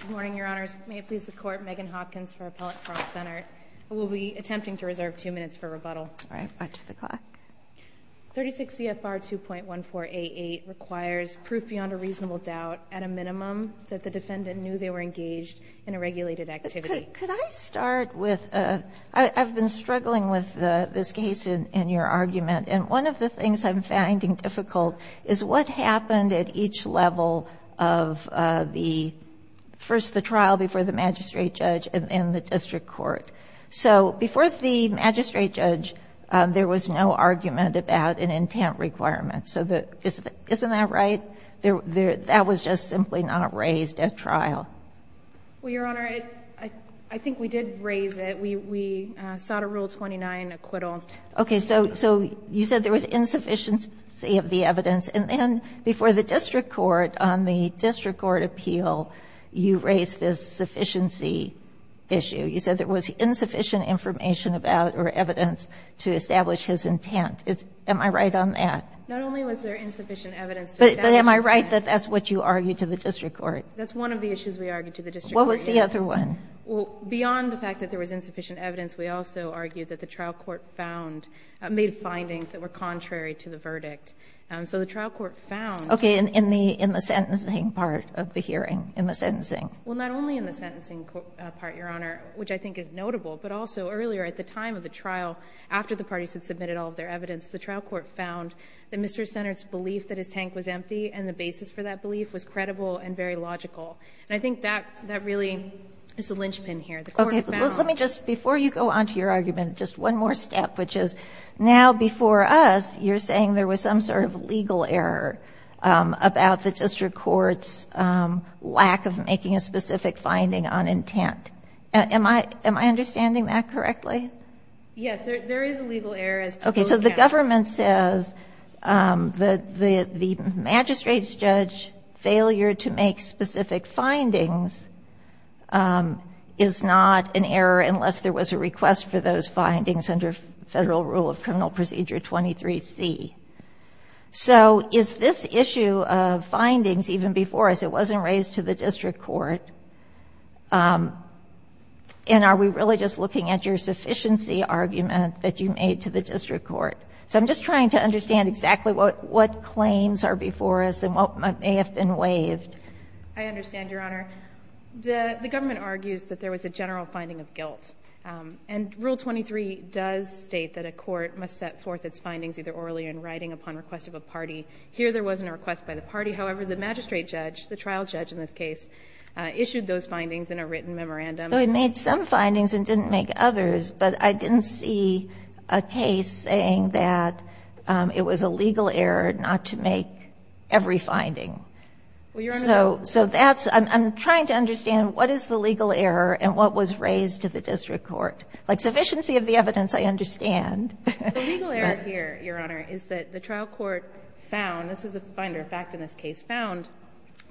Good morning, Your Honors. May it please the Court, Megan Hopkins for Appellate Frank Sennert. I will be attempting to reserve two minutes for rebuttal. All right, watch the clock. 36 CFR 2.1488 requires proof beyond a reasonable doubt at a minimum that the defendant knew they were engaged in a regulated activity. Could I start with I've been struggling with this case in your argument and one of the things I'm finding difficult is what happened at each level of the first the trial before the magistrate judge and the district court. So before the magistrate judge there was no argument about an intent requirement. Isn't that right? That was just simply not raised at trial. Well, Your Honor, I think we did raise it. We sought a Rule 29 acquittal. Okay, so you said there was insufficiency of the evidence and then before the district court on the district court appeal you raised this sufficiency issue. You said there was insufficient information about or evidence to establish his intent. Am I right on that? Not only was there insufficient evidence to establish But am I right that that's what you argued to the district court? That's one of the issues we argued to the district court. What was the other one? Well, beyond the fact that there was insufficient evidence we also argued that the trial court found, made findings that were contrary to the verdict. So the trial court found. Okay, in the sentencing part of the hearing, in the sentencing. Well, not only in the sentencing part, Your Honor, which I think is notable, but also earlier at the time of the trial after the parties had submitted all of their evidence, the trial court found that Mr. Sennert's belief that his tank was empty and the basis for that belief was credible and very logical. And I think that really is the linchpin here. Okay, let me just, before you go on to your argument, just one more step, which is now, before us, you're saying there was some sort of legal error about the district court's lack of making a specific finding on intent. Am I, am I understanding that correctly? Yes, there is a legal error as to both counts. Okay, so the government says that the magistrate's judge failure to make specific findings is not an error unless there was a request for those findings under Federal rule of criminal procedure 23C. So is this issue of findings, even before us, it wasn't raised to the district court? And are we really just looking at your sufficiency argument that you made to the district court? So I'm just trying to understand exactly what, what claims are before us and what may have been waived. I understand, Your Honor. The, the government argues that there was a general finding of guilt. And rule 23 does state that a court must submit a claim either orally or in writing upon request of a party. Here, there wasn't a request by the party. However, the magistrate judge, the trial judge in this case, issued those findings in a written memorandum. I made some findings and didn't make others, but I didn't see a case saying that it was a legal error not to make every finding. Well, Your Honor. So, so that's, I'm, I'm trying to understand what is the legal error and what was raised to the district court? Like sufficiency of the evidence, I understand. The legal error here, Your Honor, is that the trial court found, this is a finder fact in this case, found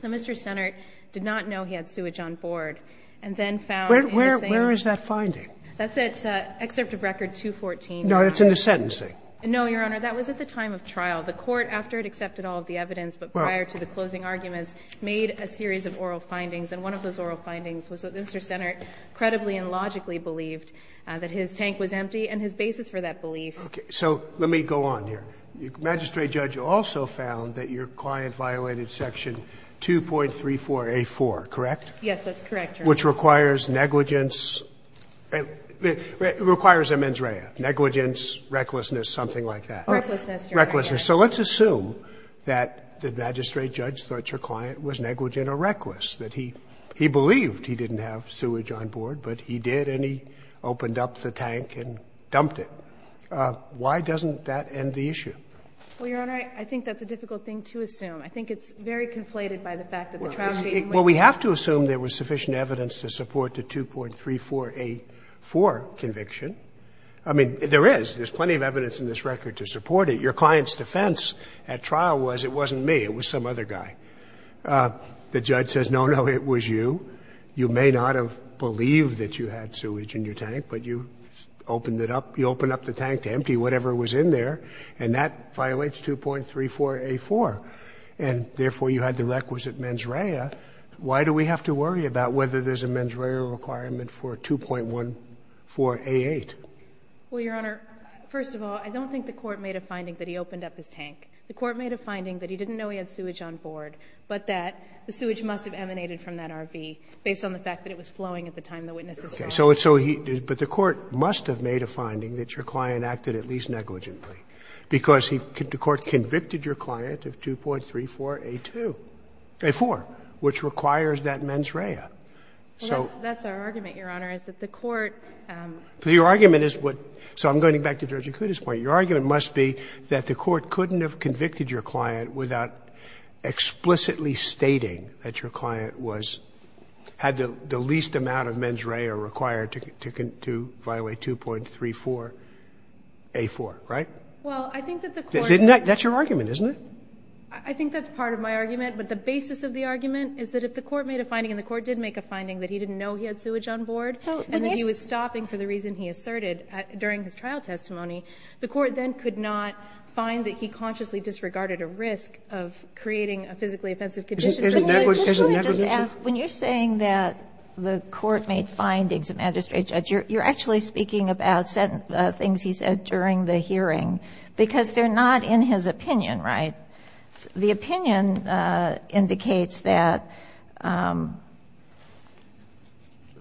that Mr. Sennert did not know he had sewage on board and then found in the same Where, where, where is that finding? That's at Excerpt of Record 214. No, it's in the sentencing. No, Your Honor, that was at the time of trial. The court, after it accepted all of the evidence, but prior to the closing arguments, made a series of oral findings. And one of those oral findings was that Mr. Sennert credibly and logically believed that his tank was empty and his basis for that belief. Okay. So let me go on here. The magistrate judge also found that your client violated Section 2.34a4, correct? Yes, that's correct, Your Honor. Which requires negligence, requires a mens rea, negligence, recklessness, something like that. Recklessness, Your Honor. So let's assume that the magistrate judge thought your client was negligent or reckless, that he, he believed he didn't have sewage on board, but he did and he opened up the tank and dumped it. Why doesn't that end the issue? Well, Your Honor, I think that's a difficult thing to assume. I think it's very conflated by the fact that the tragedy in which Well, we have to assume there was sufficient evidence to support the 2.34a4 conviction. I mean, there is. There's plenty of evidence in this record to support it. Your client's defense at trial was it wasn't me, it was some other guy. The judge says, no, no, it was you. You may not have believed that you had sewage in your tank, but you opened it up, you opened up the tank to empty whatever was in there, and that violates 2.34a4. And therefore, you had the requisite mens rea. Why do we have to worry about whether there's a mens rea requirement for 2.14a8? Well, Your Honor, first of all, I don't think the Court made a finding that he opened up his tank. The Court made a finding that he didn't know he had sewage on board, but that the sewage must have emanated from that RV based on the fact that it was flowing at the time the witnesses saw it. But the Court must have made a finding that your client acted at least negligently, because the Court convicted your client of 2.34a2a4, which requires that mens rea. Well, that's our argument, Your Honor, is that the Court Your argument is what – so I'm going back to Judge Acuda's point. Your argument must be that the Court couldn't have convicted your client without explicitly stating that your client was – had the least amount of mens rea required to violate 2.34a4, right? Well, I think that the Court That's your argument, isn't it? I think that's part of my argument. But the basis of the argument is that if the Court made a finding and the Court did make a finding that he didn't know he had sewage on board and that he was stopping for the reason he asserted during his trial testimony, the Court then could not find that he consciously disregarded a risk of creating a physically offensive condition. Can I just ask, when you're saying that the Court made findings of magistrate judge, you're actually speaking about certain things he said during the hearing, because they're not in his opinion, right? The opinion indicates that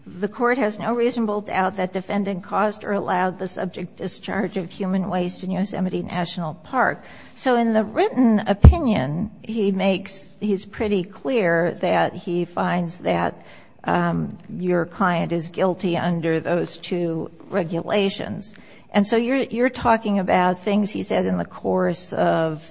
the Court has no reasonable doubt that defendant caused or allowed the subject discharge of human waste in Yosemite National Park. So in the written opinion, he makes – he's pretty clear that he finds that your client is guilty under those two regulations. And so you're talking about things he said in the course of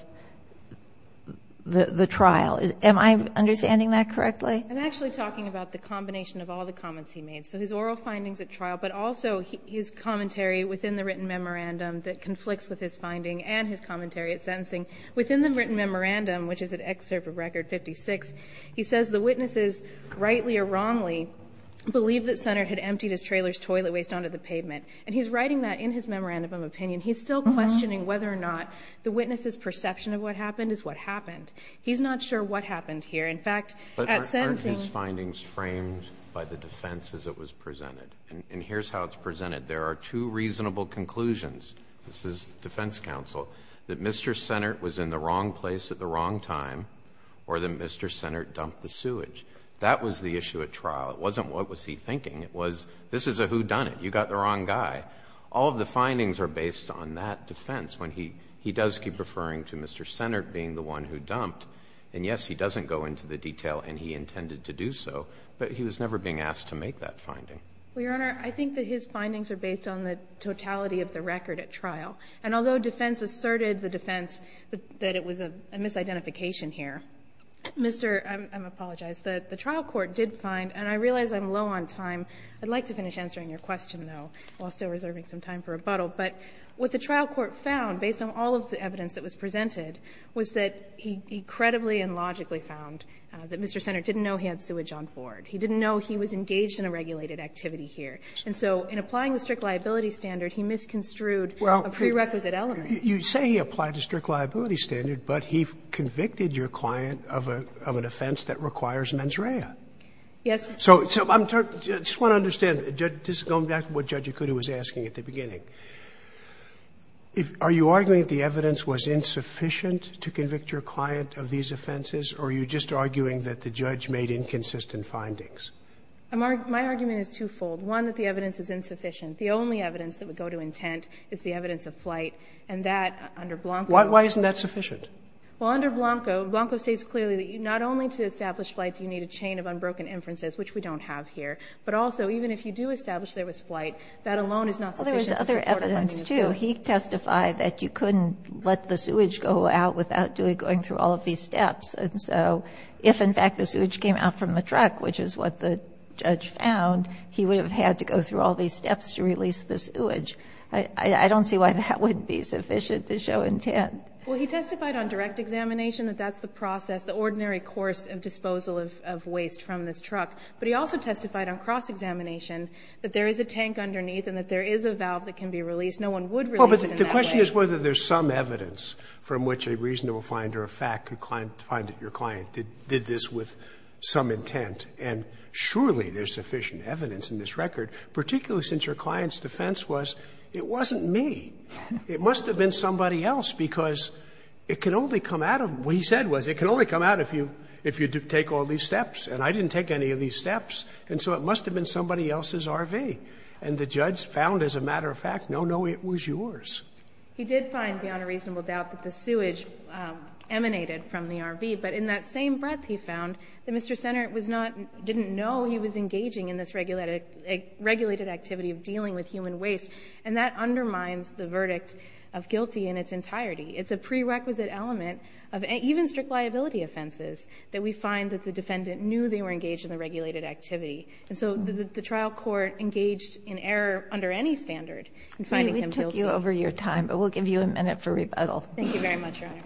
the trial. Am I understanding that correctly? I'm actually talking about the combination of all the comments he made. So his oral findings at trial, but also his commentary within the written memorandum that conflicts with his finding and his commentary at sentencing. Within the written memorandum, which is an excerpt of Record 56, he says the witnesses, rightly or wrongly, believed that Sennert had emptied his trailer's toilet waste onto the pavement. And he's writing that in his memorandum of opinion. He's still questioning whether or not the witness's perception of what happened is what happened. He's not sure what happened here. In fact, at sentencing – But aren't his findings framed by the defense as it was presented? And here's how it's presented. There are two reasonable conclusions. This is defense counsel. That Mr. Sennert was in the wrong place at the wrong time, or that Mr. Sennert dumped the sewage. That was the issue at trial. It wasn't what was he thinking. It was, this is a whodunit. You got the wrong guy. All of the findings are based on that defense. When he does keep referring to Mr. Sennert being the one who dumped, and yes, he doesn't go into the detail, and he intended to do so, but he was never being asked to make that finding. Well, Your Honor, I think that his findings are based on the totality of the record at trial. And although defense asserted the defense that it was a misidentification here, Mr. – I apologize. The trial court did find, and I realize I'm low on time. I'd like to finish answering your question, though, while still reserving some time for rebuttal. But what the trial court found, based on all of the evidence that was presented, was that he credibly and logically found that Mr. Sennert didn't know he had sewage on board. He didn't know he was engaged in a regulated activity here. And so in applying the strict liability standard, he misconstrued a prerequisite element. You say he applied the strict liability standard, but he convicted your client of an offense against mens rea. Yes, Your Honor. So I just want to understand, going back to what Judge Ikuto was asking at the beginning, are you arguing that the evidence was insufficient to convict your client of these offenses, or are you just arguing that the judge made inconsistent findings? My argument is twofold. One, that the evidence is insufficient. The only evidence that would go to intent is the evidence of flight, and that under Blanco. Why isn't that sufficient? Well, under Blanco, Blanco states clearly that not only to establish flight do you need a chain of unbroken inferences, which we don't have here, but also even if you do establish there was flight, that alone is not sufficient to support a finding of flight. Well, there was other evidence, too. He testified that you couldn't let the sewage go out without going through all of these steps. And so if, in fact, the sewage came out from the truck, which is what the judge found, he would have had to go through all these steps to release the sewage. I don't see why that wouldn't be sufficient to show intent. Well, he testified on direct examination that that's the process, the ordinary course of disposal of waste from this truck. But he also testified on cross-examination that there is a tank underneath and that there is a valve that can be released. No one would release it in that way. Well, but the question is whether there's some evidence from which a reasonable finder of fact could find that your client did this with some intent, and surely there's sufficient evidence in this record, particularly since your client's defense was it wasn't me. It must have been somebody else, because it can only come out of them. What he said was it can only come out if you take all these steps, and I didn't take any of these steps. And so it must have been somebody else's RV. And the judge found, as a matter of fact, no, no, it was yours. He did find, beyond a reasonable doubt, that the sewage emanated from the RV. But in that same breath, he found that Mr. Sennert was not, didn't know he was engaging in this regulated activity of dealing with human waste. And that undermines the verdict of guilty in its entirety. It's a prerequisite element of even strict liability offenses that we find that the defendant knew they were engaged in the regulated activity. And so the trial court engaged in error under any standard in finding him guilty. We took you over your time, but we'll give you a minute for rebuttal. Thank you very much, Your Honor.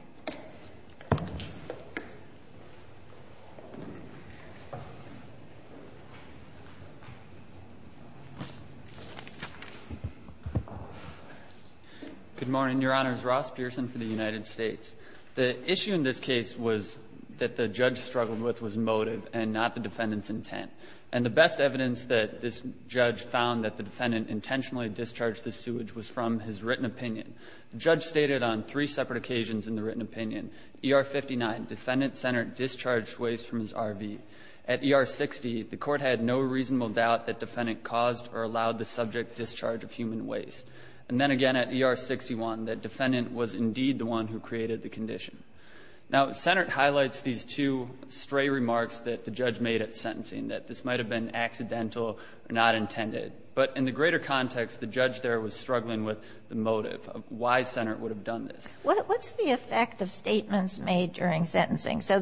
Good morning. Your Honor, it's Ross Pearson for the United States. The issue in this case was that the judge struggled with was motive and not the defendant's intent. And the best evidence that this judge found that the defendant intentionally discharged the sewage was from his written opinion. The judge stated on three separate occasions in the written opinion, ER-59, defendant Sennert discharged waste from his RV. At ER-60, the Court had no reasonable doubt that defendant caused or allowed the subject discharge of human waste. And then again at ER-61, that defendant was indeed the one who created the condition. Now, Sennert highlights these two stray remarks that the judge made at sentencing, that this might have been accidental or not intended. But in the greater context, the judge there was struggling with the motive of why Sennert would have done this. What's the effect of statements made during sentencing? So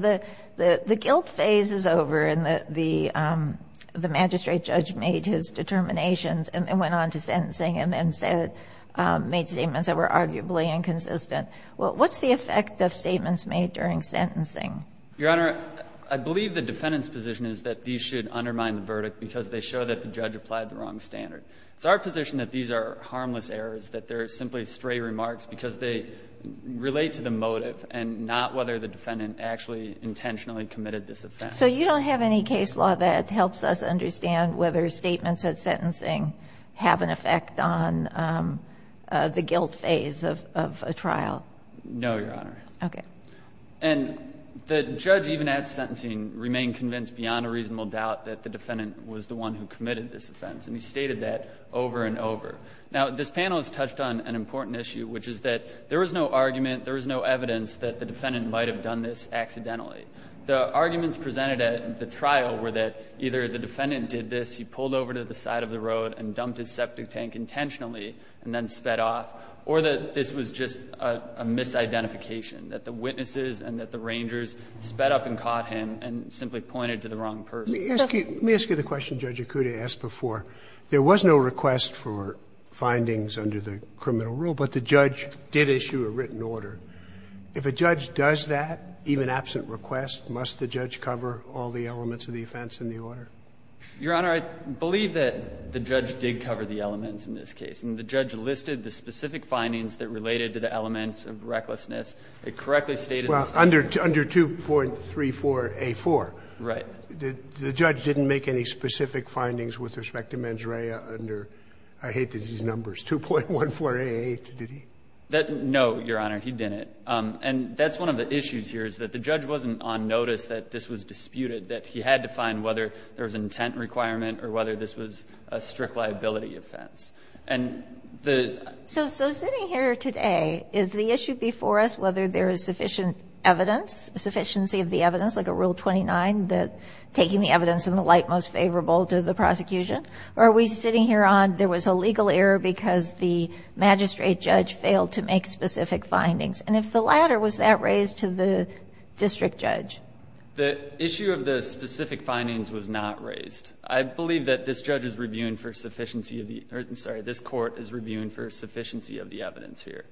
the guilt phase is over and the magistrate judge made his determinations and then went on to sentencing and then made statements that were arguably inconsistent. What's the effect of statements made during sentencing? Your Honor, I believe the defendant's position is that these should undermine the verdict because they show that the judge applied the wrong standard. It's our position that these are harmless errors, that they're simply stray remarks because they relate to the motive and not whether the defendant actually intentionally committed this offense. So you don't have any case law that helps us understand whether statements at sentencing have an effect on the guilt phase of a trial? No, Your Honor. Okay. And the judge even at sentencing remained convinced beyond a reasonable doubt that the defendant was the one who committed this offense. And he stated that over and over. Now, this panel has touched on an important issue, which is that there was no argument, there was no evidence that the defendant might have done this accidentally. The arguments presented at the trial were that either the defendant did this, he pulled over to the side of the road and dumped his septic tank intentionally and then sped off, or that this was just a misidentification, that the witnesses and that the rangers sped up and caught him and simply pointed to the wrong person. Let me ask you the question Judge Akuta asked before. There was no request for findings under the criminal rule, but the judge did issue a written order. If a judge does that, even absent request, must the judge cover all the elements of the offense in the order? Your Honor, I believe that the judge did cover the elements in this case. And the judge listed the specific findings that related to the elements of recklessness. It correctly stated the same. Well, under 2.34a.4. Right. The judge didn't make any specific findings with respect to mens rea under, I hate these numbers, 2.14a.8, did he? No, Your Honor, he didn't. And that's one of the issues here is that the judge wasn't on notice that this was an intent requirement or whether this was a strict liability offense. So sitting here today, is the issue before us whether there is sufficient evidence, sufficiency of the evidence, like a Rule 29 that taking the evidence in the light most favorable to the prosecution? Or are we sitting here on there was a legal error because the magistrate judge failed to make specific findings? And if the latter, was that raised to the district judge? The issue of the specific findings was not raised. I believe that this judge is reviewing for sufficiency of the, I'm sorry, this court is reviewing for sufficiency of the evidence here.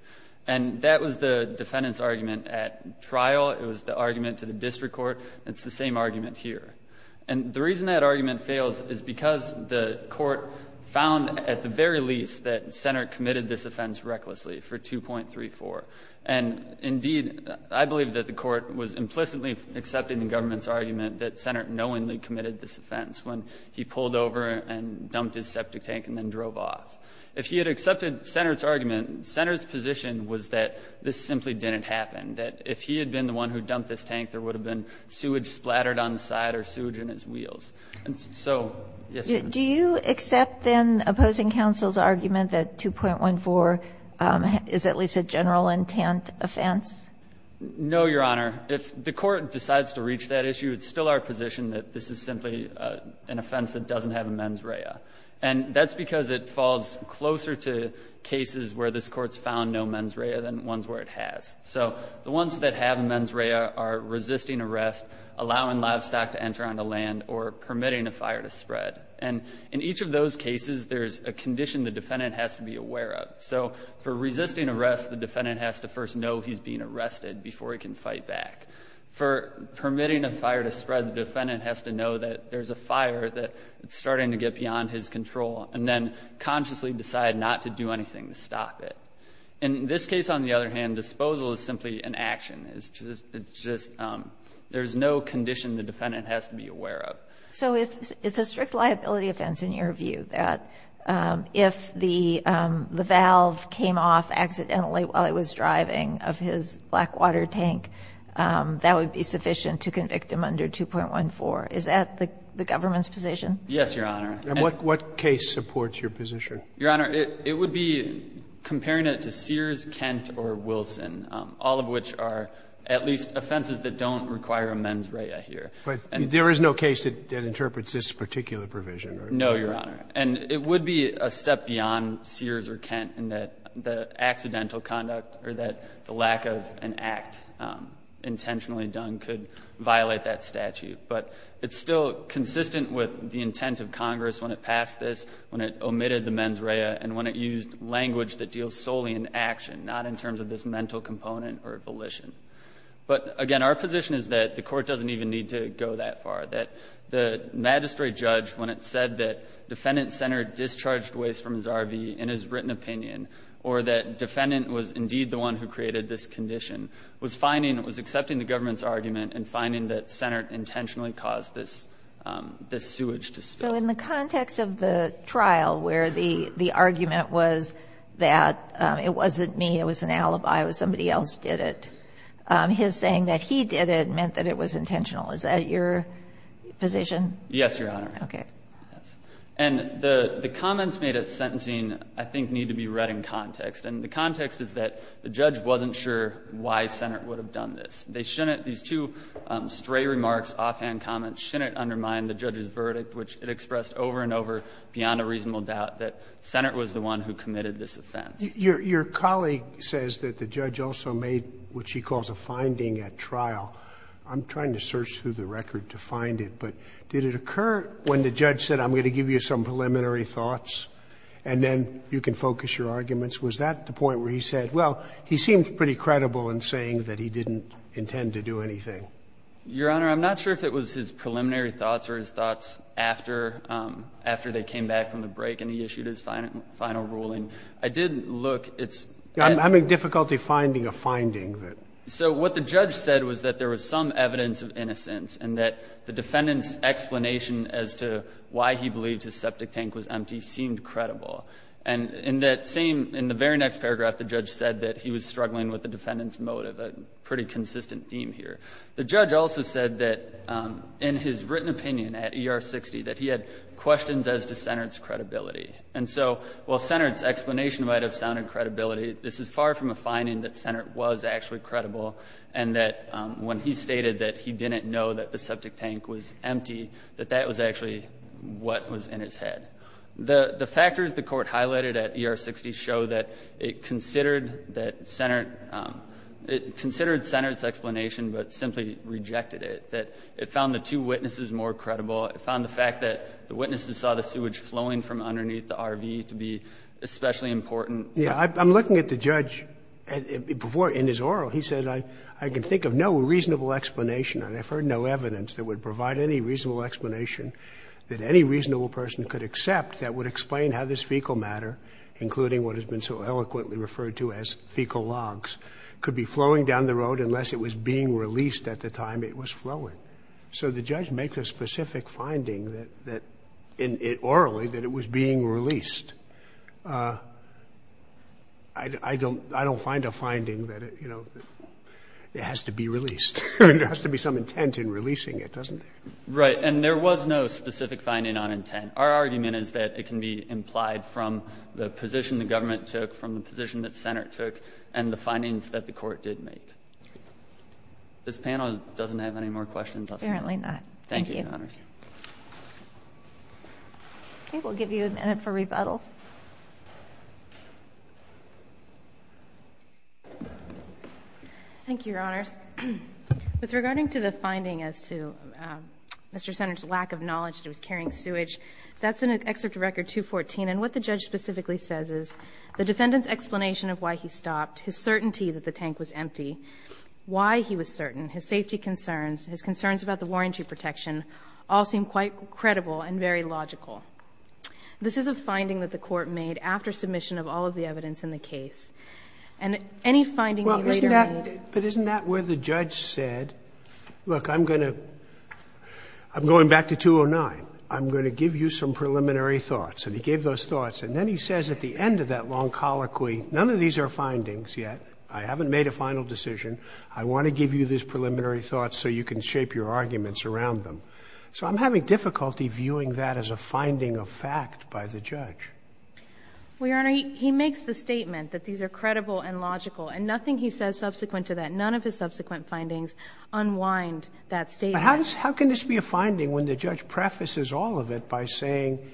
And that was the defendant's argument at trial. It was the argument to the district court. It's the same argument here. And the reason that argument fails is because the court found at the very least that Sennert committed this offense recklessly for 2.34. And indeed, I believe that the court was implicitly accepting the government's argument that Sennert knowingly committed this offense when he pulled over and dumped his septic tank and then drove off. If he had accepted Sennert's argument, Sennert's position was that this simply didn't happen, that if he had been the one who dumped this tank, there would have been sewage splattered on the side or sewage in his wheels. And so, yes, ma'am. Do you accept, then, opposing counsel's argument that 2.14 is at least a general intent offense? No, Your Honor. If the court decides to reach that issue, it's still our position that this is simply an offense that doesn't have a mens rea. And that's because it falls closer to cases where this Court's found no mens rea than ones where it has. So the ones that have mens rea are resisting arrest, allowing livestock to enter on the land, or permitting a fire to spread. And in each of those cases, there's a condition the defendant has to be aware of. So for resisting arrest, the defendant has to first know he's being arrested before he can fight back. For permitting a fire to spread, the defendant has to know that there's a fire that's starting to get beyond his control and then consciously decide not to do anything to stop it. In this case, on the other hand, disposal is simply an action. It's just there's no condition the defendant has to be aware of. So if it's a strict liability offense in your view, that if the valve came off accidentally while he was driving of his blackwater tank, that would be sufficient to convict him under 2.14, is that the government's position? Yes, Your Honor. And what case supports your position? Your Honor, it would be comparing it to Sears, Kent, or Wilson, all of which are at least offenses that don't require a mens rea here. But there is no case that interprets this particular provision? No, Your Honor. And it would be a step beyond Sears or Kent in that the accidental conduct or that the lack of an act intentionally done could violate that statute. But it's still consistent with the intent of Congress when it passed this, when it omitted the mens rea, and when it used language that deals solely in action, not in terms of this mental component or volition. But, again, our position is that the Court doesn't even need to go that far, that the magistrate judge, when it said that defendant Sennert discharged waste from his RV in his written opinion, or that defendant was indeed the one who created this condition, was finding, was accepting the government's argument and finding that Sennert intentionally caused this sewage to spill. So in the context of the trial where the argument was that it wasn't me, it was an alibi, it was somebody else did it, his saying that he did it meant that it was intentional, is that your position? Yes, Your Honor. Okay. And the comments made at sentencing, I think, need to be read in context. And the context is that the judge wasn't sure why Sennert would have done this. They shouldn't, these two stray remarks, offhand comments, shouldn't undermine the judge's verdict, which it expressed over and over, beyond a reasonable doubt, that Sennert was the one who committed this offense. Your colleague says that the judge also made what she calls a finding at trial. I'm trying to search through the record to find it, but did it occur when the judge said, I'm going to give you some preliminary thoughts and then you can focus your arguments, was that the point where he said, well, he seemed pretty credible in saying that he didn't intend to do anything? Your Honor, I'm not sure if it was his preliminary thoughts or his thoughts after, after they came back from the break and he issued his final ruling. I did look. I'm having difficulty finding a finding. So what the judge said was that there was some evidence of innocence and that the defendant's explanation as to why he believed his septic tank was empty seemed credible. And in that same, in the very next paragraph, the judge said that he was struggling with the defendant's motive, a pretty consistent theme here. The judge also said that in his written opinion at ER-60 that he had questions as to Sennert's credibility. And so while Sennert's explanation might have sounded credibility, this is far from a finding that Sennert was actually credible and that when he stated that he didn't know that the septic tank was empty, that that was actually what was in his head. The factors the Court highlighted at ER-60 show that it considered that Sennert it considered Sennert's explanation, but simply rejected it, that it found the two witnesses more credible. It found the fact that the witnesses saw the sewage flowing from underneath the RV to be especially important. Yeah. I'm looking at the judge before in his oral. He said, I can think of no reasonable explanation, and I've heard no evidence that would provide any reasonable explanation that any reasonable person could accept that would explain how this fecal matter, including what has been so eloquently referred to as fecal logs, could be flowing down the road unless it was being released at the time it was flowing. So the judge makes a specific finding that in it orally that it was being released. I don't find a finding that, you know, it has to be released. There has to be some intent in releasing it, doesn't there? Right. And there was no specific finding on intent. Our argument is that it can be implied from the position the government took, from the position that the Senate took, and the findings that the Court did make. This panel doesn't have any more questions, does it? Apparently not. Thank you, Your Honors. Okay. We'll give you a minute for rebuttal. Thank you, Your Honors. With regarding to the finding as to Mr. Senator's lack of knowledge that it was carrying sewage, that's in Excerpt to Record 214. And what the judge specifically says is the defendant's explanation of why he stopped, his certainty that the tank was empty, why he was certain, his safety concerns, his concerns about the warranty protection, all seem quite credible and very logical. This is a finding that the Court made after submission of all of the evidence in the case. And any finding we later made But isn't that where the judge said, look, I'm going to go back to 209. I'm going to give you some preliminary thoughts. And he gave those thoughts. And then he says at the end of that long colloquy, none of these are findings yet. I haven't made a final decision. I want to give you these preliminary thoughts so you can shape your arguments around them. So I'm having difficulty viewing that as a finding of fact by the judge. Well, Your Honor, he makes the statement that these are credible and logical. And nothing he says subsequent to that, none of his subsequent findings unwind that statement. But how can this be a finding when the judge prefaces all of it by saying,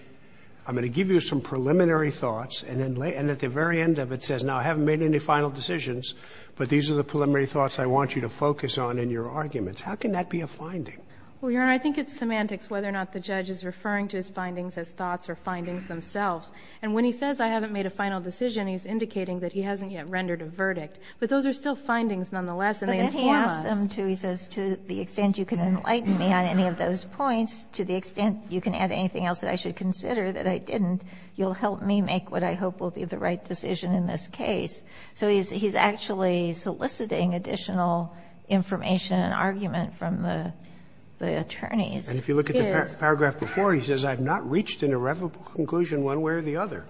I'm going to give you some preliminary thoughts, and at the very end of it says, now, I haven't made any final decisions, but these are the preliminary thoughts I want you to focus on in your arguments. How can that be a finding? Well, Your Honor, I think it's semantics whether or not the judge is referring to his findings as thoughts or findings themselves. And when he says I haven't made a final decision, he's indicating that he hasn't yet rendered a verdict. But those are still findings nonetheless, and they inform us. And he's not just saying to you, I'm going to give you some preliminary thoughts. And he's adding them to, he says, to the extent you can enlighten me on any of those points, to the extent you can add anything else that I should consider that I didn't, you'll help me make what I hope will be the right decision in this case. So he's actually soliciting additional information and argument from the attorneys. He is. Paragraph before, he says, I have not reached an irrevocable conclusion one way or the other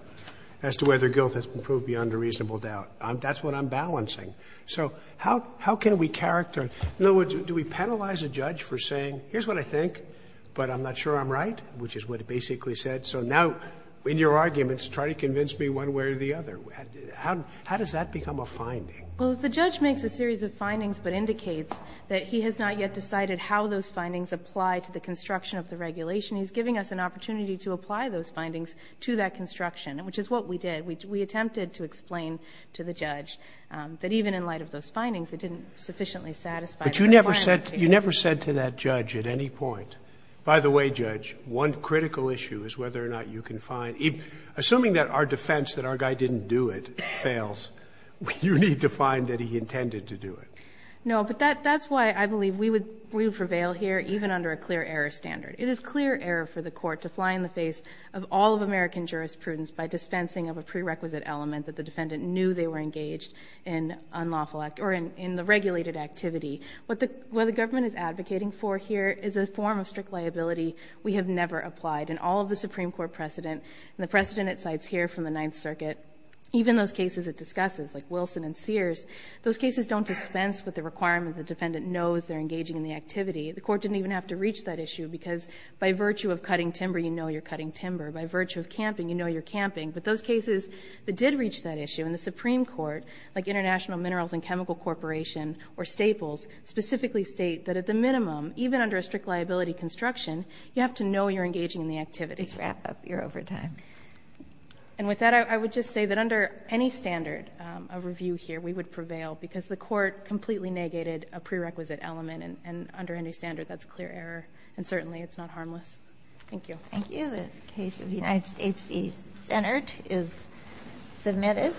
as to whether guilt has been proved beyond a reasonable doubt. That's what I'm balancing. So how can we characterize? In other words, do we penalize a judge for saying, here's what I think, but I'm not sure I'm right, which is what it basically said. So now, in your arguments, try to convince me one way or the other. How does that become a finding? Well, the judge makes a series of findings but indicates that he has not yet decided how those findings apply to the construction of the regulation. He's giving us an opportunity to apply those findings to that construction, which is what we did. We attempted to explain to the judge that even in light of those findings, it didn't sufficiently satisfy the client's case. But you never said to that judge at any point, by the way, Judge, one critical issue is whether or not you can find, assuming that our defense that our guy didn't do it fails, you need to find that he intended to do it. No, but that's why I believe we would prevail here even under a clear error standard. It is clear error for the Court to fly in the face of all of American jurisprudence by dispensing of a prerequisite element that the defendant knew they were engaged in the regulated activity. What the government is advocating for here is a form of strict liability we have never applied. And all of the Supreme Court precedent and the precedent it cites here from the Ninth Circuit, even those cases it discusses, like Wilson and Sears, those cases don't dispense with the requirement the defendant knows they're engaging in the activity. The Court didn't even have to reach that issue because by virtue of cutting timber, you know you're cutting timber. By virtue of camping, you know you're camping. But those cases that did reach that issue in the Supreme Court, like International Minerals and Chemical Corporation or Staples, specifically state that at the minimum, even under a strict liability construction, you have to know you're engaging in the activity. And with that, I would just say that under any standard of review here, we would not prevail because the Court completely negated a prerequisite element. And under any standard, that's a clear error. And certainly it's not harmless. Thank you. Thank you. The case of the United States v. Senate is submitted.